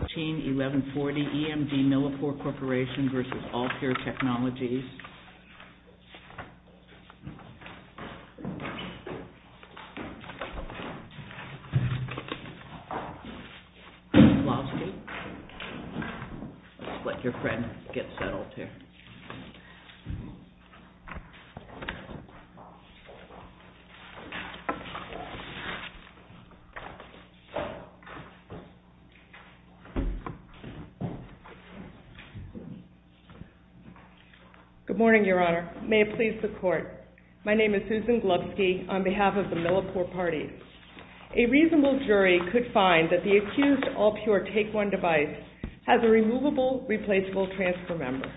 Lovsky. Let your friend get settled here. Good morning, Your Honor. May it please the Court. My name is Susan Glovsky on behalf of the Millipore Party. A reasonable jury could find that the accused AllPure TakeOne device has a removable, replaceable transfer member.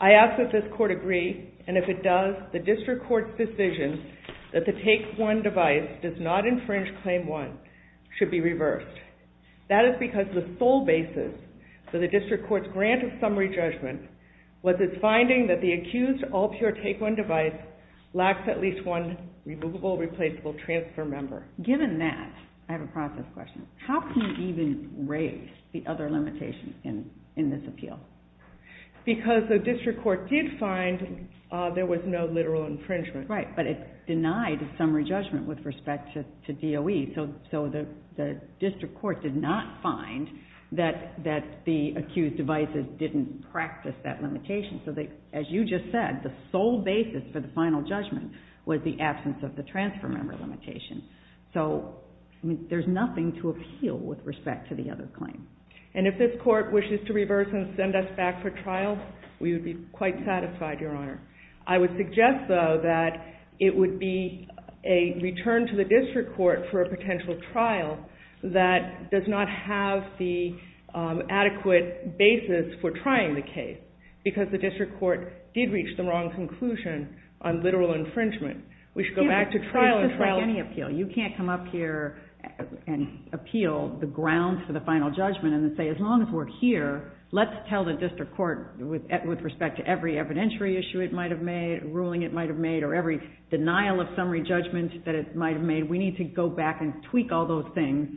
I ask that this Court agree, and if it does, the District Court's decision that the TakeOne device does not infringe Claim One should be reversed. That is because the sole basis for the District Court's grant of summary judgment was its finding that the accused AllPure TakeOne device lacks at least one removable, replaceable transfer member. Given that, I have a process question. How can you even raise the other limitations in this appeal? Because the District Court did find there was no literal infringement. Right, but it denied summary judgment with respect to DOE, so the District Court did not find that the accused devices didn't practice that limitation. So as you just said, the sole basis for the final judgment was the absence of the transfer member limitation. So there's nothing to appeal with respect to the other claims. And if this Court wishes to reverse and send us back for trial, we would be quite satisfied, Your Honor. I would suggest, though, that it would be a return to the District Court for a potential trial that does not have the adequate basis for trying the case, because the District Court did reach the wrong conclusion on literal infringement. We should go back to trial and trial. It's just like any appeal. You can't come up here and appeal the grounds for the final judgment and then say, as long as we're here, let's tell the District Court, with respect to every evidentiary issue it might have made or every denial of summary judgment that it might have made, we need to go back and tweak all those things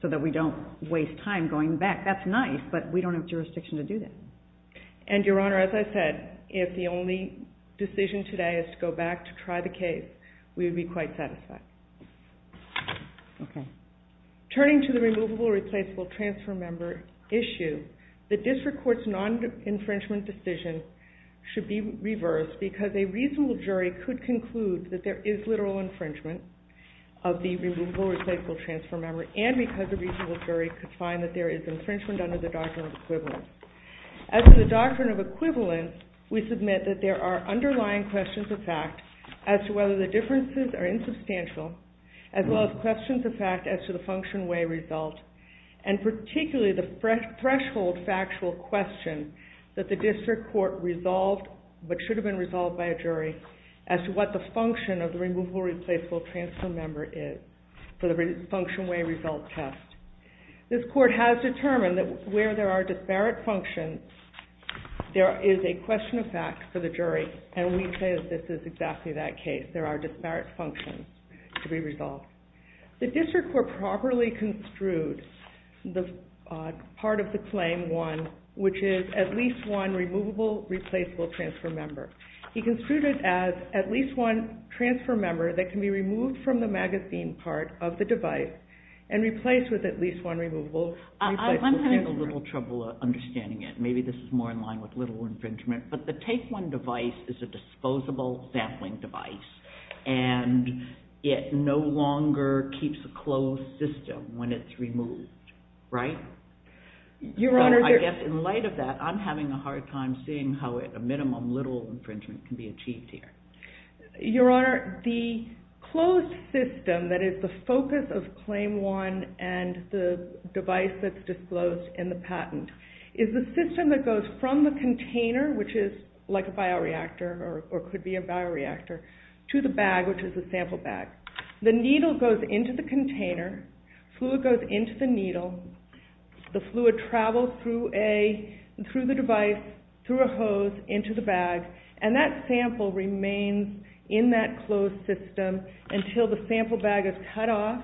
so that we don't waste time going back. That's nice, but we don't have jurisdiction to do that. And, Your Honor, as I said, if the only decision today is to go back to try the case, we would be quite satisfied. Okay. Turning to the removable or replaceable transfer member issue, the District Court's non-infringement decision should be reversed, because a reasonable jury could conclude that there is literal infringement of the removable or replaceable transfer member, and because a reasonable jury could find that there is infringement under the Doctrine of Equivalence. As for the Doctrine of Equivalence, we submit that there are underlying questions of fact as to whether the differences are insubstantial, as well as questions of fact as to the function, way, result, and particularly the threshold factual question that the District Court resolved, but should have been resolved by a jury, as to what the function of the removable or replaceable transfer member is for the function, way, result test. This Court has determined that where there are disparate functions, there is a question of fact for the jury, and we say that this is exactly that case. There are disparate functions to be resolved. The District Court properly construed the part of the claim 1, which is at least one removable, replaceable transfer member. He construed it as at least one transfer member that can be removed from the magazine part of the device, and replaced with at least one removable, replaceable transfer member. I'm having a little trouble understanding it. Maybe this is more in line with little infringement, but the Take 1 device is a disposable sampling device, and it no longer keeps a sample bag that can be removed, right? I guess in light of that, I'm having a hard time seeing how at a minimum, little infringement can be achieved here. Your Honor, the closed system, that is the focus of Claim 1 and the device that's disclosed in the patent, is the system that goes from the container, which is like a bioreactor, or could be a bioreactor, to the bag, which is the sample bag. The needle goes into the needle. The fluid travels through the device, through a hose, into the bag, and that sample remains in that closed system until the sample bag is cut off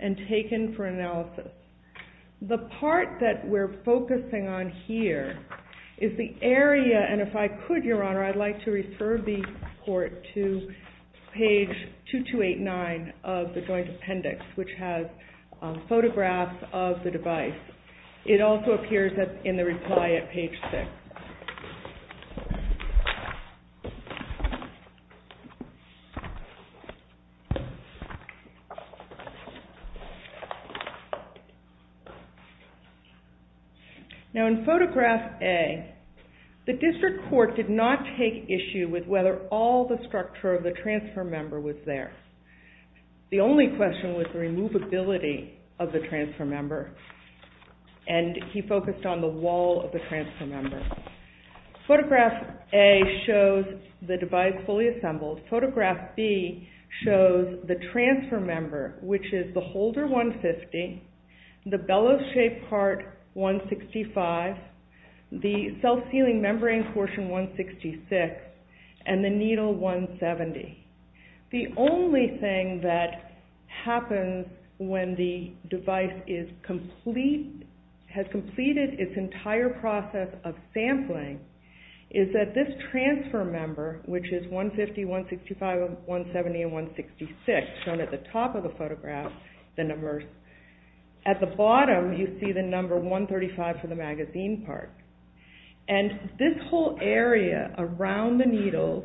and taken for analysis. The part that we're focusing on here is the area, and if I could, Your Honor, I'd like to refer the Court to page 2289 of the Joint Appendix, which has photographs of the sample bag and photographs of the device. It also appears in the reply at page 6. Now in photograph A, the District Court did not take issue with whether all the structure of the transfer member was there. The only question was the removability of the transfer member, and he focused on the wall of the transfer member. Photograph A shows the device fully assembled. Photograph B shows the transfer member, which is the holder 150, the bellow shaped part 165, the self-sealing membrane portion 166, and the needle 170. The only thing that happens when the device has completed its entire process of sampling is that this transfer member, which is 150, 165, 170, and 166, shown at the top of the photograph, at the bottom you see the number 135 for the magazine part, and this whole area around the needle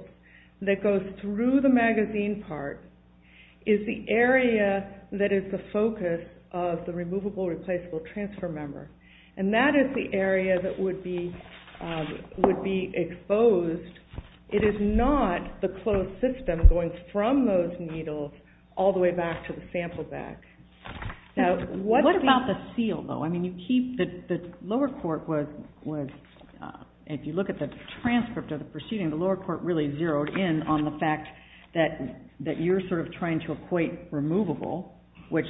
that goes through the magazine part is the area that is the focus of the removable replaceable transfer member, and that is the area that would be exposed. It is not the closed system going from those needles all the way back to the sample bag. What about the seal, though? The lower court, if you look at the transcript of the proceeding, the lower court really zeroed in on the fact that you are trying to equate removable, which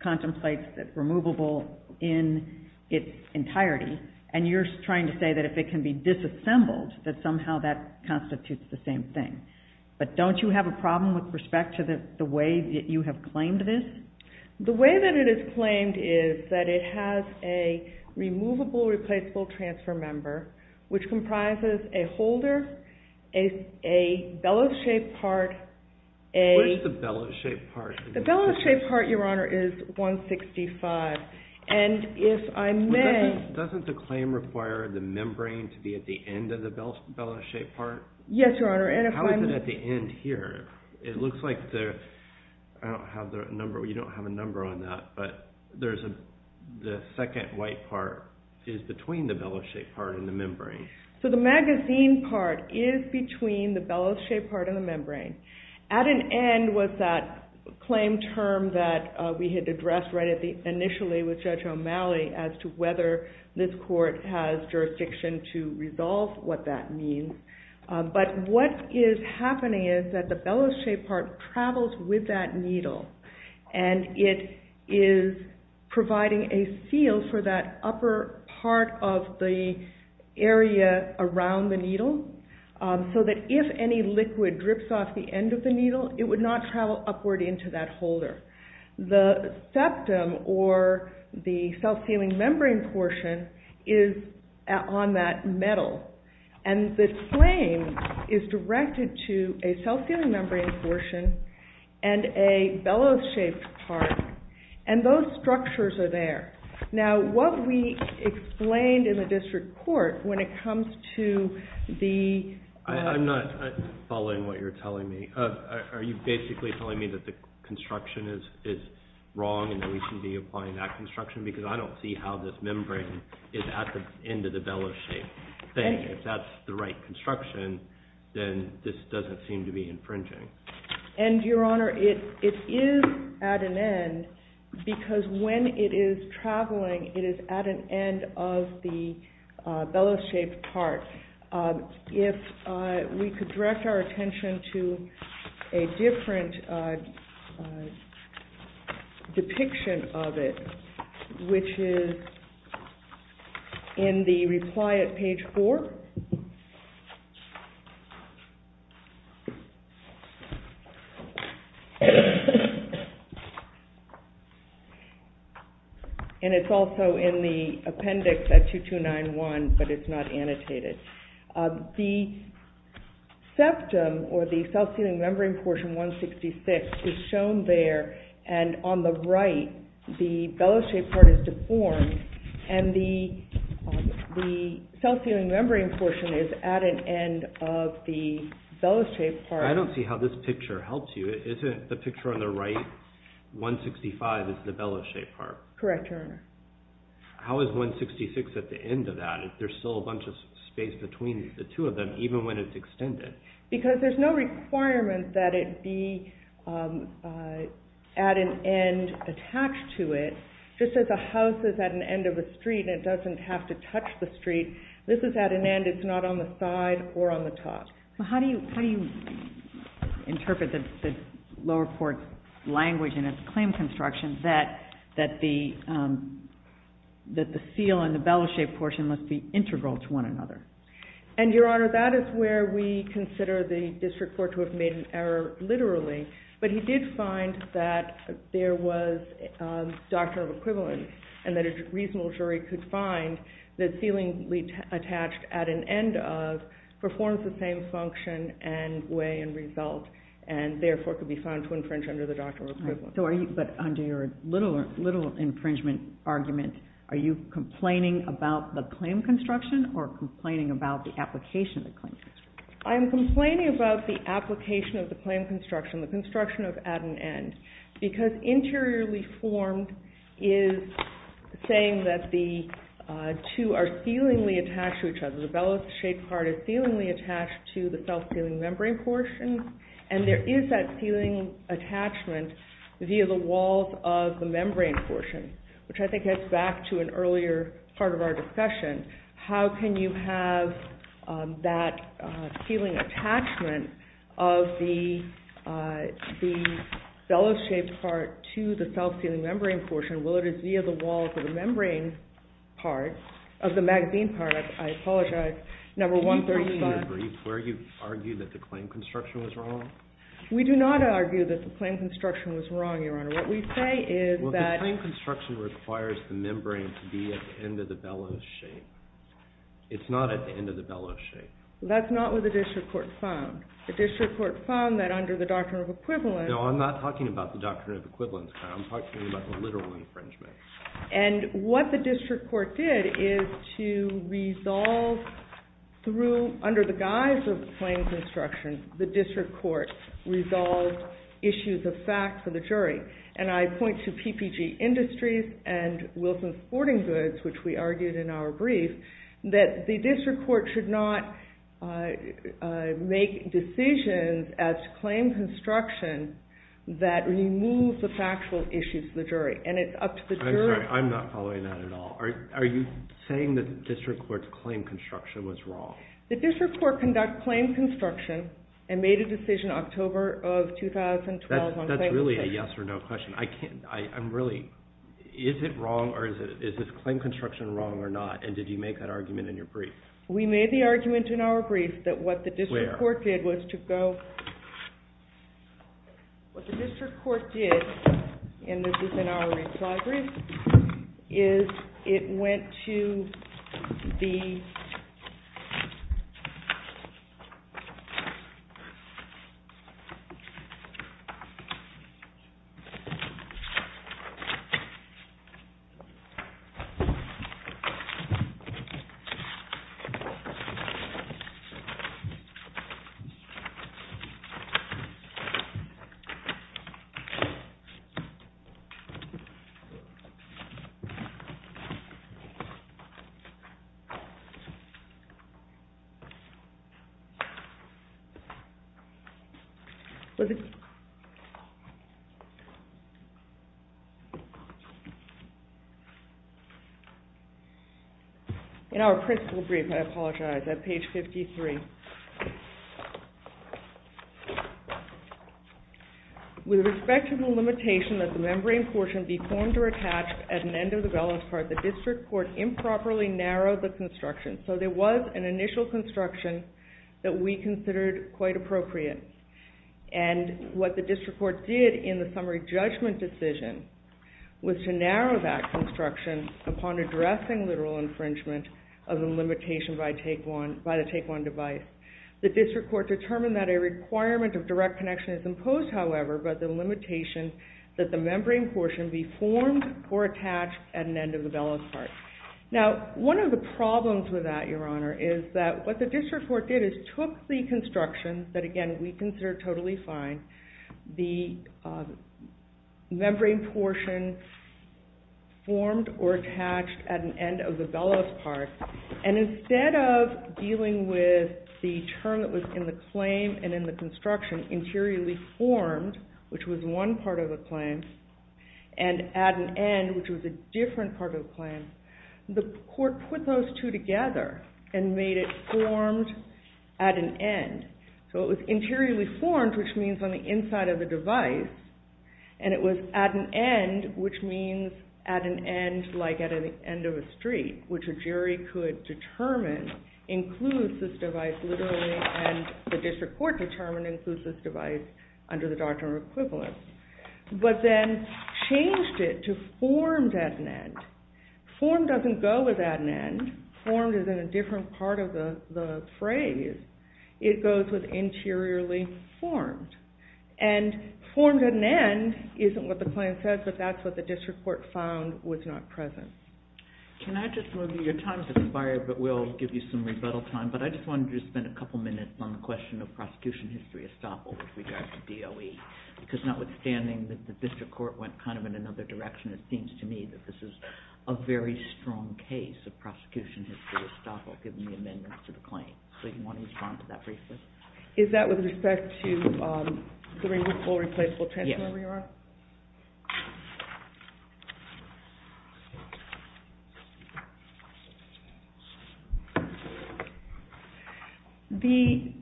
contemplates removable in its entirety, and you are trying to say that if it can be disassembled, that somehow that constitutes the same thing, but don't you have a problem with respect to the way that you have claimed this? The way that it is claimed is that it has a removable replaceable transfer member, which comprises a holder, a bellows-shaped part, a... What is the bellows-shaped part? The bellows-shaped part, Your Honor, is 165, and if I may... Doesn't the claim require the membrane to be at the end of the bellows-shaped part? Yes, Your Honor, and if I may... You don't have a number on that, but the second white part is between the bellows-shaped part and the membrane. So the magazine part is between the bellows-shaped part and the membrane. At an end was that claim term that we had addressed initially with Judge O'Malley as to whether this court has jurisdiction to resolve what that means, but what is happening is that the bellows-shaped part travels with that needle, and it is providing a seal for that upper part of the area around the needle, so that if any liquid drips off the end of the needle, it would not travel upward into that holder. The septum, or the self-sealing membrane portion, is on that metal, and the claim is directed to a self-sealing membrane portion and a bellows-shaped part, and those structures are there. Now, what we explained in the district court when it comes to the... I'm not following what you're telling me. Are you basically telling me that the construction is wrong and that we should be applying that construction? Because I don't see how this membrane is at the end of the bellows-shaped thing. If that's the right construction, then this doesn't seem to be infringing. And, Your Honor, it is at an end, because when it is traveling, it is at an end of the bellows-shaped part. If we could direct our attention to a different depiction of it, which is in the reply at page 4, and it's also in the appendix at 2291, but it's not annotated. The septum, or the self-sealing membrane portion 166, is shown there, and on the right, the bellows-shaped part is deformed, and the self-sealing membrane portion is at an end of the bellows-shaped part. I don't see how this picture helps you. Isn't the picture on the right 165 is the bellows-shaped part? Correct, Your Honor. How is 166 at the end of that? There's still a bunch of space between the two of them, even when it's extended. Because there's no requirement that it be at an end attached to it. Just as a house is at an end of a street and it doesn't have to touch the street, this is at an end. It's not on the side or on the top. How do you interpret the Lower Port language in its claim construction that the seal and the bellows-shaped portion must be integral to one another? And, Your Honor, that is where we consider the district court to have made an error, literally. But he did find that there was a doctrine of equivalence, and that a reasonable jury could find that sealing attached at an end of performs the same function and way and result, and therefore could be found to infringe under the doctrine of equivalence. But under your little infringement argument, are you complaining about the claim construction or complaining about the application of the claim construction? I am complaining about the application of the claim construction, the construction of at an end, because interiorly formed is saying that the two are sealingly attached to each other. The bellows-shaped part is sealingly attached to the self-sealing membrane portion, and there is that sealing attachment via the walls of the membrane portion, which I think gets back to an earlier part of our discussion. How can you have that sealing attachment of the bellows-shaped part to the self-sealing membrane portion, whether it is via the walls of the membrane part, of the magazine part, I apologize, number 135. Do you believe, in your brief, where you argue that the claim construction was wrong? We do not argue that the claim construction was wrong, Your Honor. What we say is that the claim construction requires the membrane to be at the end of the bellows shape. It is not at the end of the bellows shape. That is not what the district court found. The district court found that under the doctrine of equivalence No, I am not talking about the doctrine of equivalence, Your Honor. I am talking about the literal infringement. And what the district court did is to resolve through, under the guise of the claim construction, the district court resolved issues of fact for the jury. And I point to PPG Industries and Wilson Sporting Goods, which we argued in our brief, that the district court should not make decisions as to claim construction that remove the factual issues of the jury. And it is up to the jury I am sorry, I am not following that at all. Are you saying that the district court's claim construction was wrong? The district court conducted claim construction and made a decision in October of 2012 That is really a yes or no question. Is this claim construction wrong or not? And did you make that argument in your brief? We made the argument in our brief that what the district court did was to go What the district court did, and this is in our arranged library, is it went to the In our principal brief, I apologize, at page 53, With respect to the limitation that the membrane portion be formed or attached at an end of the balance part, the district court improperly narrowed the construction. So there was an initial construction that we considered quite appropriate. And what the district court did in the summary judgment decision was to narrow that construction upon addressing literal infringement of the limitation by the take one device. The district court determined that a requirement of direct connection is imposed, however, by the limitation that the membrane portion be formed or attached at an end of the balance part. Now, one of the problems with that, your honor, is that what the district court did is took the construction that again we considered totally fine, the membrane portion formed or attached at an end of the balance part, and instead of dealing with the term that was in the claim and in the construction, interiorly formed, which was one part of the claim, and at an end, which was a different part of the claim, the court put those two together and made it formed at an end. So it was interiorly formed, which means on the inside of the device, and it was at an end, which means at an end like at the end of a street, which a jury could determine includes this device literally and the district court determined includes this device under the doctrine of equivalence. But then changed it to formed at an end. Formed doesn't go with at an end. Formed is in a different part of the phrase. It goes with what the claim says, but that's what the district court found was not present. Can I just move, your time has expired, but we'll give you some rebuttal time, but I just wanted to spend a couple minutes on the question of prosecution history estoppel with regard to DOE, because notwithstanding that the district court went kind of in another direction, it seems to me that this is a very strong case of prosecution history estoppel given the amendments to the claim. So you want to respond to that briefly? Is that with respect to the removable, replaceable transfer? Yes. The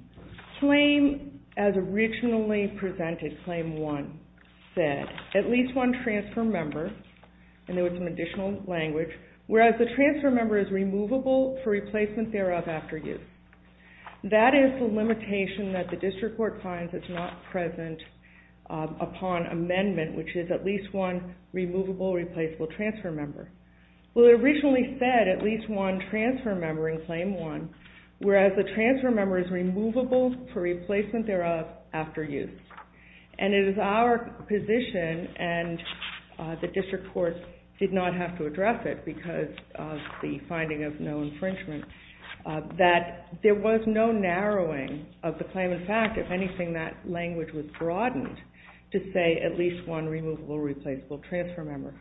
claim as originally presented, claim one, said at least one transfer member, and there was some additional language, whereas the transfer member is removable for replacement thereof after use. That is the limitation that the district court finds is not present upon amendment, which is at least one removable, replaceable transfer member. Well, it originally said at least one transfer member in claim one, whereas the transfer member is removable for replacement thereof after use. And it is our position, and the district court did not have to address it because of the finding of no infringement, that there was no narrowing of the claim. In fact, if anything, that language was broadened to say at least one removable, replaceable transfer member.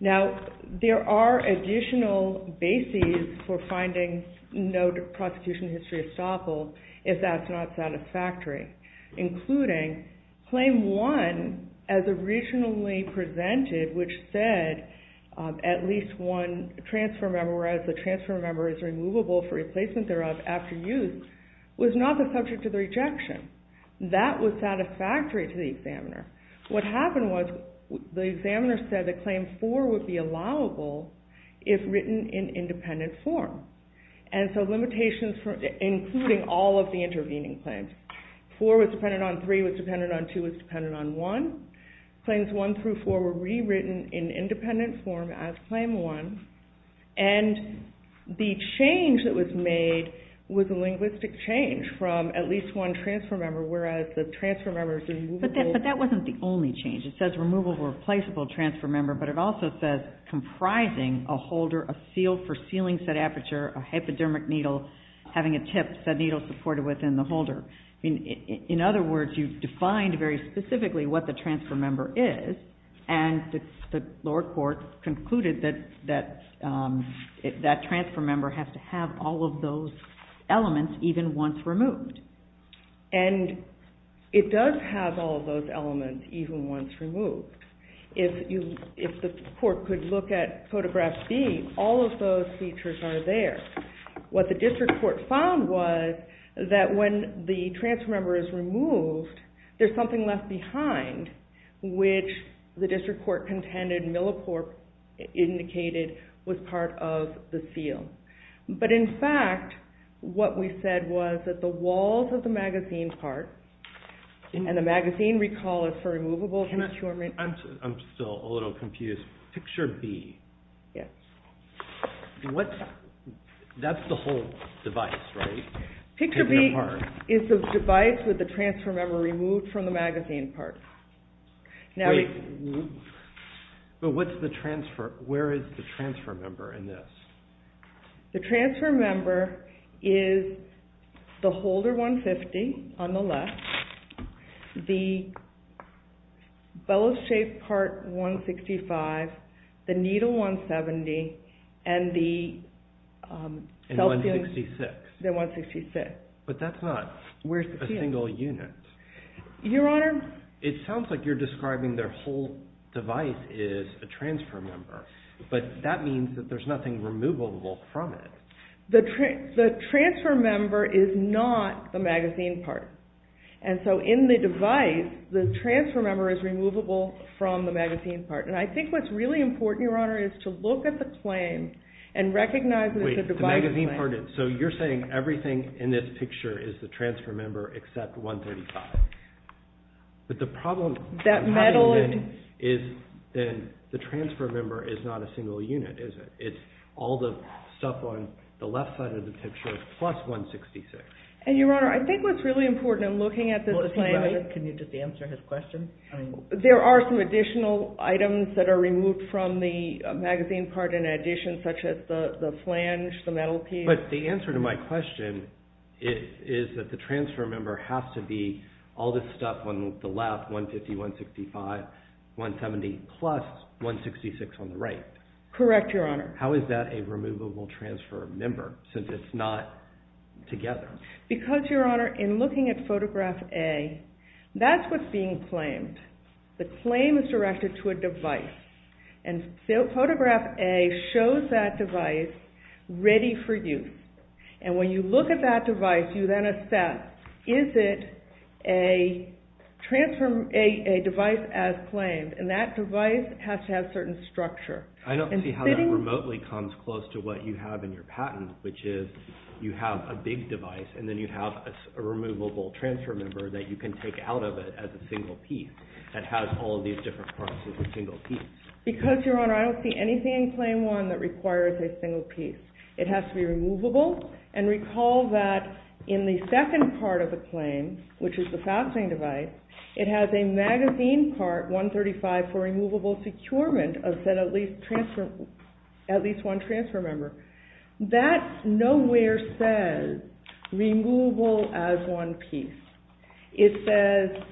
Now, there are additional bases for finding no prosecution history estoppel if that's not satisfactory, including claim one as originally presented, which said at least one transfer member, whereas the transfer member is removable for replacement thereof after use, was not the subject of the rejection. That was satisfactory to the examiner. What happened was the examiner said that claim four would be allowable if written in independent form. And so limitations including all of the intervening claims. Four was dependent on three, was dependent on two, was dependent on one. Claims one through four were rewritten in independent form as claim one. And the change that was made was a linguistic change from at least one transfer member, whereas the transfer member is removable. But that wasn't the only change. It says removable, replaceable transfer member, but it also says comprising a holder, a seal for sealing said aperture, a hypodermic needle having a tip that's a needle supported within the holder. In other words, you've defined very specifically what the transfer member is, and the lower court concluded that that transfer member has to have all of those elements even once removed. And it does have all of those elements even once removed. If the court could look at photograph B, all of those features are there. What the district court found was that when the transfer member is removed, there's something left behind, which the district court contended Millicorp indicated was part of the seal. But in fact, what we said was that the walls of the magazine part, and the magazine recall is for removable procurement. I'm still a little confused. Picture B, that's the whole device, right? Picture B is the device with the transfer member removed from the magazine part. But where is the transfer member in this? The transfer member is the holder 150 on the left, the bellows-shaped part 165, the needle 170, and the self-sealing, the 166. But that's not worth a single unit. Your Honor? It sounds like you're describing their whole device is a transfer member, but that means that there's nothing removable from it. The transfer member is not the magazine part. And so in the device, the transfer member is removable from the magazine part. And I think what's really important, Your Honor, is to look at the claim and recognize that it's a divided claim. Wait. The magazine part is. So you're saying everything in this picture is the transfer member except 135. But the problem having been is that the transfer member is not a transfer member. It's all the stuff on the left side of the picture plus 166. And Your Honor, I think what's really important in looking at this claim is. Can you just answer his question? There are some additional items that are removed from the magazine part in addition, such as the flange, the metal piece. But the answer to my question is that the transfer member has to be all this stuff on the left, 150, 165, 170, plus 166 on the right. Correct, Your Honor. How is that a removable transfer member since it's not together? Because, Your Honor, in looking at photograph A, that's what's being claimed. The claim is directed to a device. And photograph A shows that device ready for use. And when you look at that device, you then assess, is it a device as claimed? And that device has to have certain structure. I don't see how that remotely comes close to what you have in your patent, which is you have a big device and then you have a removable transfer member that you can take out of it as a single piece that has all of these different parts as a single piece. Because, Your Honor, I don't see anything in Claim 1 that requires a single piece. It has to be removable. And recall that in the second part of the claim, which is the fastening at least one transfer member. That nowhere says removable as one piece. It says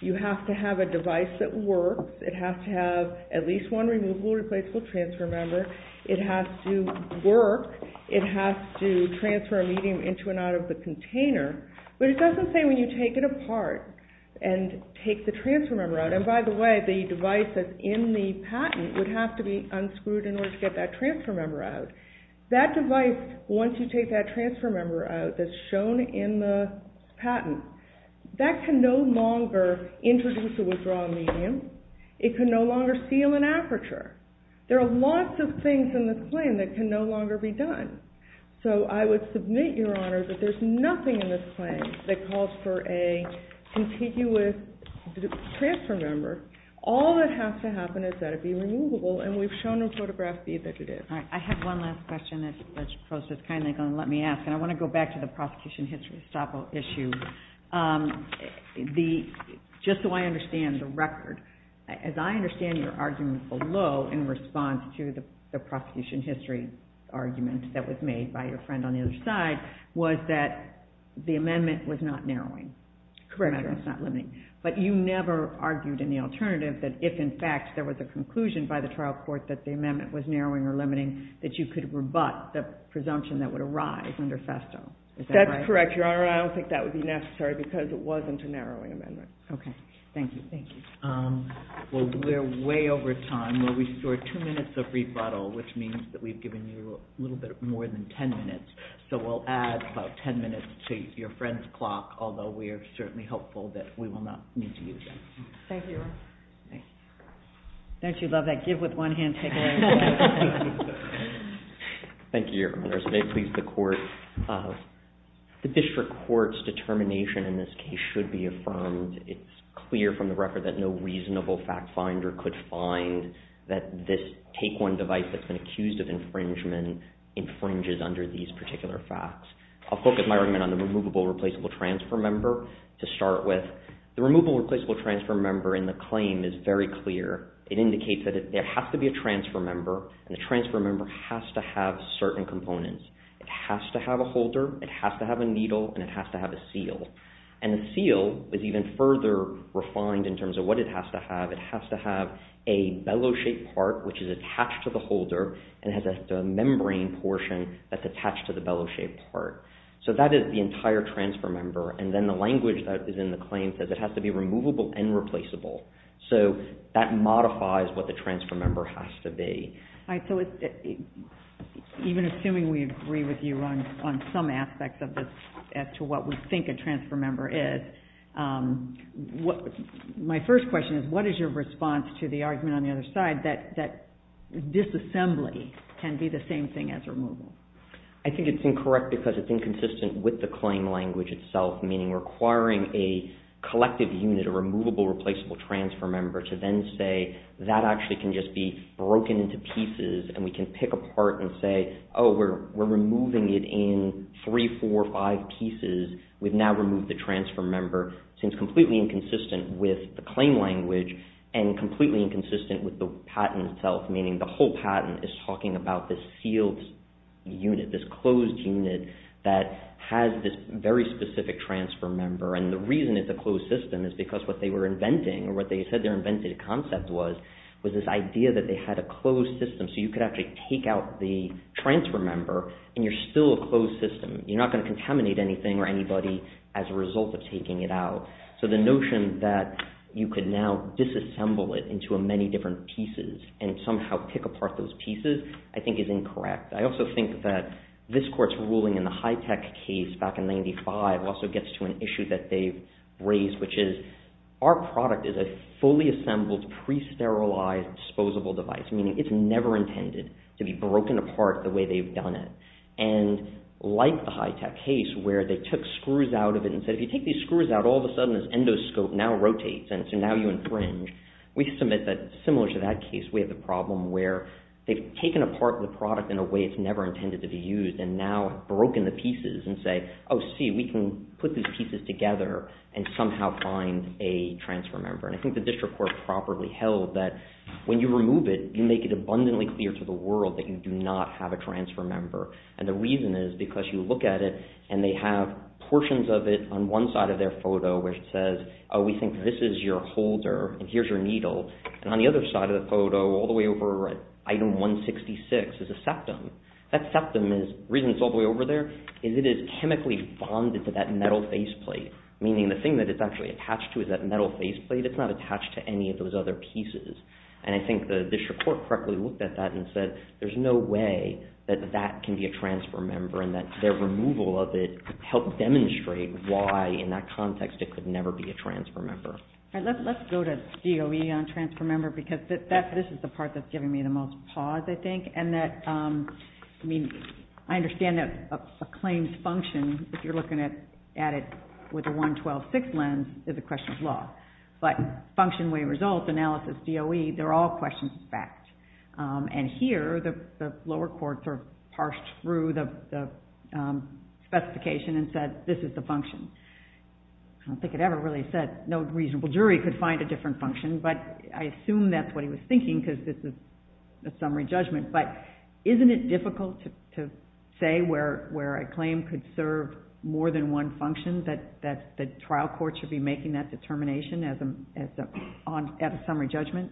you have to have a device that works. It has to have at least one removable replaceable transfer member. It has to work. It has to transfer a medium into and out of the container. But it doesn't say when you take it apart and take the transfer member out. And by the way, that the device that's in the patent would have to be unscrewed in order to get that transfer member out. That device, once you take that transfer member out that's shown in the patent, that can no longer introduce a withdrawal medium. It can no longer seal an aperture. There are lots of things in this claim that can no longer be done. So I would submit, Your Honor, that there's nothing in this claim that calls for a contiguous transfer member. All that has to happen is that it be removable. And we've shown in photograph feed that it is. All right. I have one last question that's kind of going to let me ask. And I want to go back to the prosecution history stop issue. Just so I understand the record, as I understand your argument below in response to the prosecution history argument that was made by your friend on the other side, was that the amendment was not narrowing. Correct. But you never argued in the alternative that if, in fact, there was a conclusion by the trial court that the amendment was narrowing or limiting, that you could rebut the presumption that would arise under FESTO. Is that right? That's correct, Your Honor. I don't think that would be necessary because it wasn't a narrowing amendment. Okay. Thank you. Thank you. Well, we're way over time. We'll restore two minutes of rebuttal, which means that we've given you a little bit more than 10 minutes. So we'll add about 10 minutes to your friend's rebuttal that we will not need to use again. Thank you, Your Honor. Thank you. Don't you love that give with one hand, take away with the other? Thank you, Your Honor. So they've pleased the court. The district court's determination in this case should be affirmed. It's clear from the record that no reasonable fact finder could find that this take one device that's been accused of infringement infringes under these particular facts. I'll focus my argument on the removable replaceable transfer member to start with. The removable replaceable transfer member in the claim is very clear. It indicates that there has to be a transfer member, and the transfer member has to have certain components. It has to have a holder, it has to have a needle, and it has to have a seal. And the seal is even further refined in terms of what it has to have. It has to have a bellow shaped part, which is attached to the holder and has a membrane portion that's in the claim says it has to be removable and replaceable. So that modifies what the transfer member has to be. Even assuming we agree with you on some aspects as to what we think a transfer member is, my first question is what is your response to the argument on the other side that disassembly can be the same thing as removal? I think it's incorrect because it's inconsistent with the claim language itself, meaning requiring a collective unit, a removable replaceable transfer member, to then say that actually can just be broken into pieces and we can pick apart and say, oh, we're removing it in three, four, five pieces. We've now removed the transfer member. Seems completely inconsistent with the claim language and completely inconsistent with the patent itself, meaning the whole unit, this closed unit that has this very specific transfer member. And the reason it's a closed system is because what they were inventing, or what they said their inventive concept was, was this idea that they had a closed system so you could actually take out the transfer member and you're still a closed system. You're not going to contaminate anything or anybody as a result of taking it out. So the notion that you could now disassemble it into many different pieces and somehow pick apart those pieces I think is incorrect. I also think that this court's ruling in the HITECH case back in 95 also gets to an issue that they've raised, which is our product is a fully assembled, pre-sterilized, disposable device, meaning it's never intended to be broken apart the way they've done it. And like the HITECH case where they took screws out of it and said, if you take these screws out, all of a sudden this endoscope now rotates and so now you infringe, we submit that similar to that case we have a problem where they've taken apart the product in a way it's never intended to be used and now broken the pieces and say, oh see, we can put these pieces together and somehow find a transfer member. And I think the district court properly held that when you remove it, you make it abundantly clear to the world that you do not have a transfer member. And the reason is because you look at it and they have portions of it on one side of their photo where it says, oh we think this is your holder and here's your needle, and on the other side of the photo all the way over at item 166 is a septum. That septum is, the reason it's all the way over there, is it is chemically bonded to that metal faceplate, meaning the thing that it's actually attached to is that metal faceplate, it's not attached to any of those other pieces. And I think the district court correctly looked at that and said, there's no way that that can be a transfer member and that their removal of it could help demonstrate why in that context it could never be a transfer member. Let's go to DOE on transfer member because this is the part that's giving me the most pause, I think. And that, I mean, I understand that a claimed function, if you're looking at it with a 112-6 lens, is a question of law. But function, way of result, analysis, DOE, they're all questions of fact. And here the lower courts are parsed through the specification and said this is the function. I don't think it ever really said no reason a reasonable jury could find a different function, but I assume that's what he was thinking because this is a summary judgment. But isn't it difficult to say where a claim could serve more than one function, that the trial court should be making that determination at a summary judgment?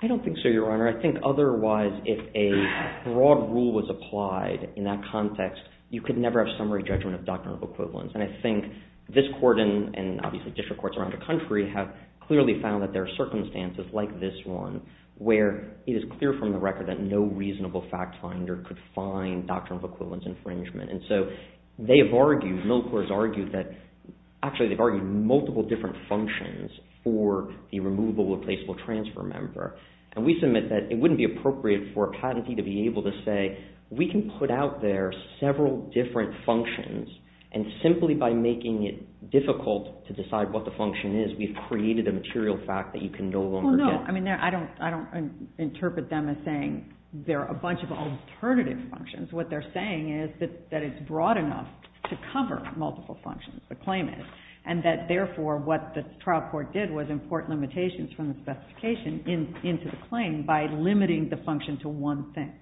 I don't think so, Your Honor. I think otherwise if a broad rule was applied in that context, you could never have summary judgment of doctrinal equivalence. And I think this court and obviously district courts around the country have clearly found that there are circumstances like this one where it is clear from the record that no reasonable fact finder could find doctrinal equivalence infringement. And so they have argued, middle courts argued that, actually they've argued multiple different functions for the removable replaceable transfer member. And we submit that it wouldn't be appropriate for a patentee to be able to say we can put out there several different functions and simply by making it difficult to decide what the function is, we've created a material fact that you can no longer get. I don't interpret them as saying there are a bunch of alternative functions. What they're saying is that it's broad enough to cover multiple functions, the claim is. And that therefore what the trial court did was import limitations from the specification into the claim by limiting the function to one thing.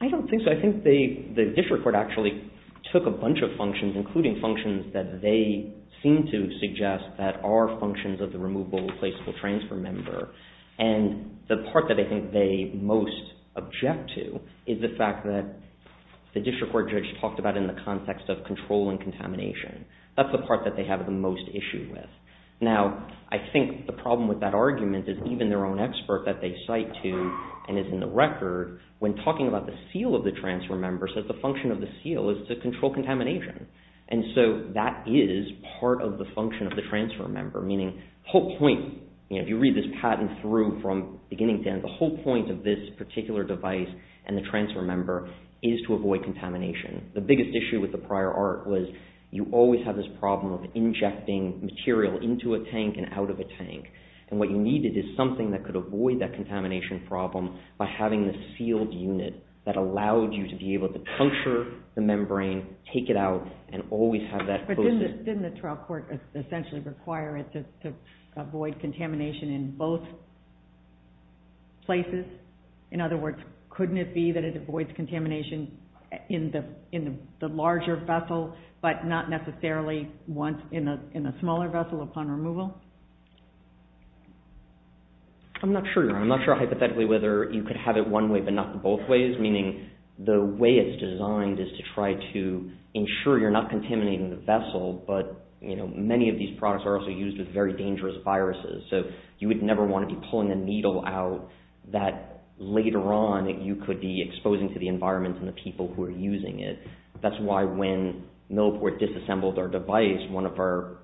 I don't think so. I think the district court actually took a bunch of functions, including functions that they seem to suggest that are functions of the removable replaceable transfer member. And the part that I think they most object to is the fact that the district court judge talked about in the context of control and contamination. That's the part that they have the most issue with. Now, I think the problem with that argument is even their own expert that they cite to and is in the record when talking about the seal of the transfer member says the function of the seal is to control contamination. And so that is part of the function of the transfer member, meaning the whole point, if you read this patent through from beginning to end, the whole point of this particular device and the transfer member is to avoid contamination. The biggest issue with the prior art was you always have this problem of injecting material into a tank and out of a tank. And what you needed is something that could avoid that by having the sealed unit that allowed you to be able to puncture the membrane, take it out, and always have that. But didn't the trial court essentially require it to avoid contamination in both places? In other words, couldn't it be that it avoids contamination in the larger vessel but not necessarily in the smaller vessel upon removal? I'm not sure. I'm not sure hypothetically whether you could have it one way but not both ways, meaning the way it's designed is to try to ensure you're not contaminating the vessel, but many of these products are also used with very dangerous viruses. So you would never want to be pulling a needle out that later on you could be exposing to the environment and the people who are using it. That's why when Millport disassembled our device, one of our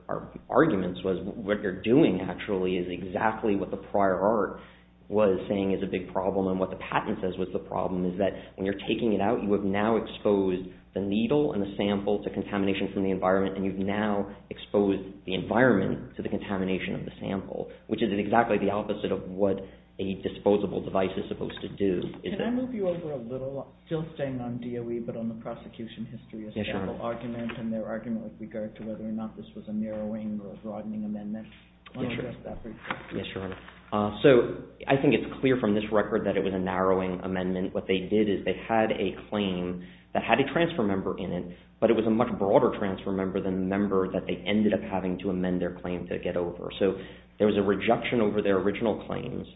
arguments was what you're doing actually is exactly what the prior art was saying is a big problem and what the patent says was the problem is that when you're taking it out, you have now exposed the needle and the sample to contamination from the environment and you've now exposed the environment to the contamination of the sample, which is exactly the opposite of what a disposable device is supposed to do. Can I move you over a little? Still staying on DOE but on the prosecution history of sample argument and their argument with regard to whether or not this was a narrowing or a broadening amendment? Yes, Your Honor. So I think it's clear from this record that it was a narrowing amendment. What they did is they had a claim that had a transfer member in it, but it was a much broader transfer member than the member that they ended up having to amend their claim to get over. So there was a rejection over their original claims.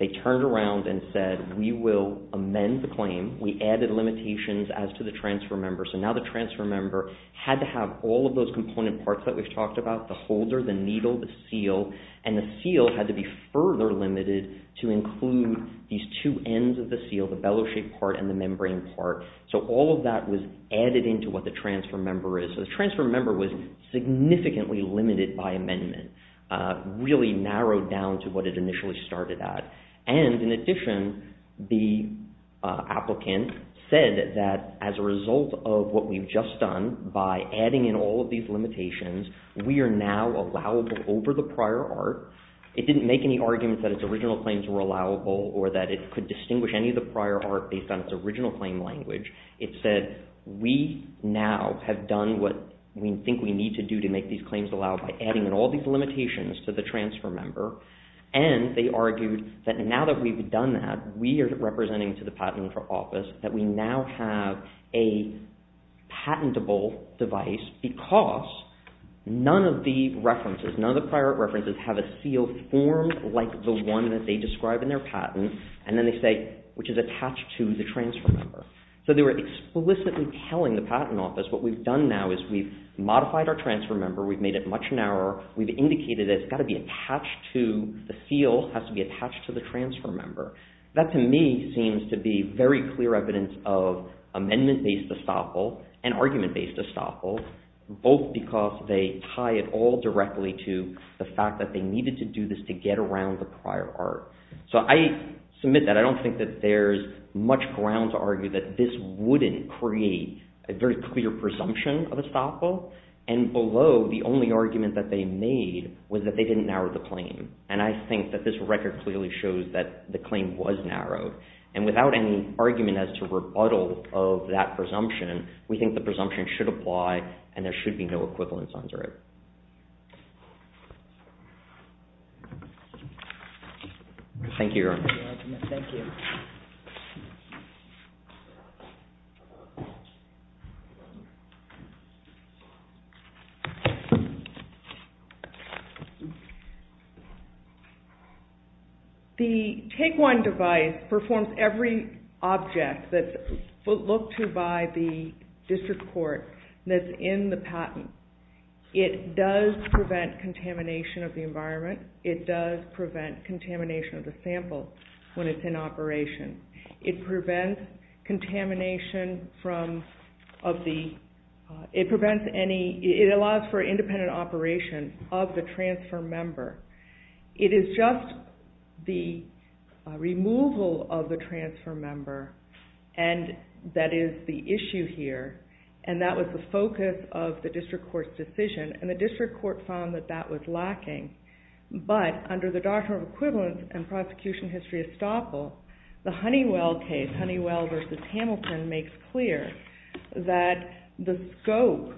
They turned around and said, we will amend the claim. We added limitations as to the transfer member. So now the transfer member had to have all of those component parts that we've talked about, the holder, the needle, the seal, and the seal had to be further limited to include these two ends of the seal, the bellow shape part and the membrane part. So all of that was added into what the transfer member is. So the transfer member was significantly limited by amendment, really narrowed down to what it initially started at. And in addition, the applicant said that as a result of what we've just done by adding in all of these limitations, we are now allowable over the prior art. It didn't make any arguments that its original claims were allowable or that it could distinguish any of the prior art based on its original claim language. It said, we now have done what we think we need to do to make these claims allowable by adding in all these limitations to the transfer member. And they argued that now that we've done that, we are representing to the Patent Office that we now have a patentable device because none of the references, none of the prior art references have a seal formed like the one that they described in their patent, and then they say which is attached to the transfer member. So they were explicitly telling the Patent Office what we've done now is we've modified our transfer member, we've made it much narrower, we've indicated that it's got to be attached to the seal, it has to be attached to the transfer member. That to me seems to be very clear evidence of amendment-based estoppel and argument-based estoppel, both because they tie it all directly to the fact that they needed to do this to get around the prior art. So I submit that. I don't think that there's much ground to argue that this wouldn't create a very clear presumption of estoppel, and below, the only argument that they made was that they didn't narrow the claim. And I think that this record clearly shows that the claim was narrowed. And without any argument as to rebuttal of that presumption, we think the presumption should apply and there should be no equivalence under it. Thank you. The Take One device performs every object that's looked to by the district court that's in the patent. It does prevent contamination of the environment. It does prevent contamination of the sample when it's in operation. It allows for independent operation of the transfer member. It is just the removal of the transfer member that is the issue here, and that was the focus of the district court's decision, and the district court found that that was estoppel. The Honeywell case, Honeywell v. Hamilton, makes clear that the scope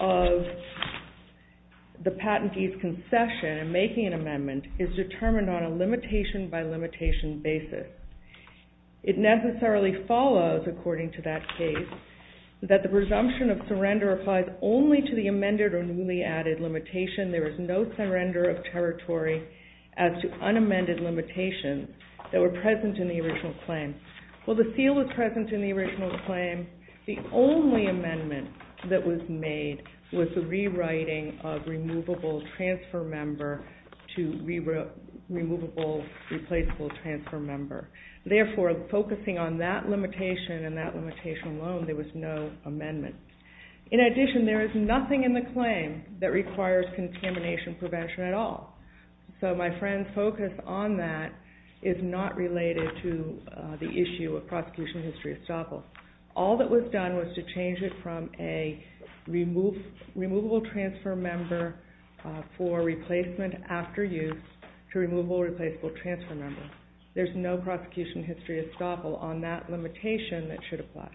of the patentee's concession in making an amendment is determined on a limitation by limitation basis. It necessarily follows, according to that case, that the presumption of surrender applies only to the amended or newly added limitation. There is no surrender of territory as to unamended limitations that were present in the original claim. While the seal was present in the original claim, the only amendment that was made was the rewriting of removable transfer member to removable replaceable transfer member. Therefore, focusing on that limitation and that limitation alone, there was no amendment. In addition, there is nothing in the claim that requires contamination prevention at all. So my friend's focus on that is not related to the issue of prosecution history estoppel. All that was done was to change it from a removable transfer member for replacement after use to removable replaceable transfer member. There's no prosecution history estoppel on that limitation that should apply.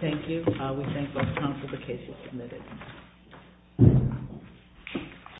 Thank you. We thank the Council for the case you submitted.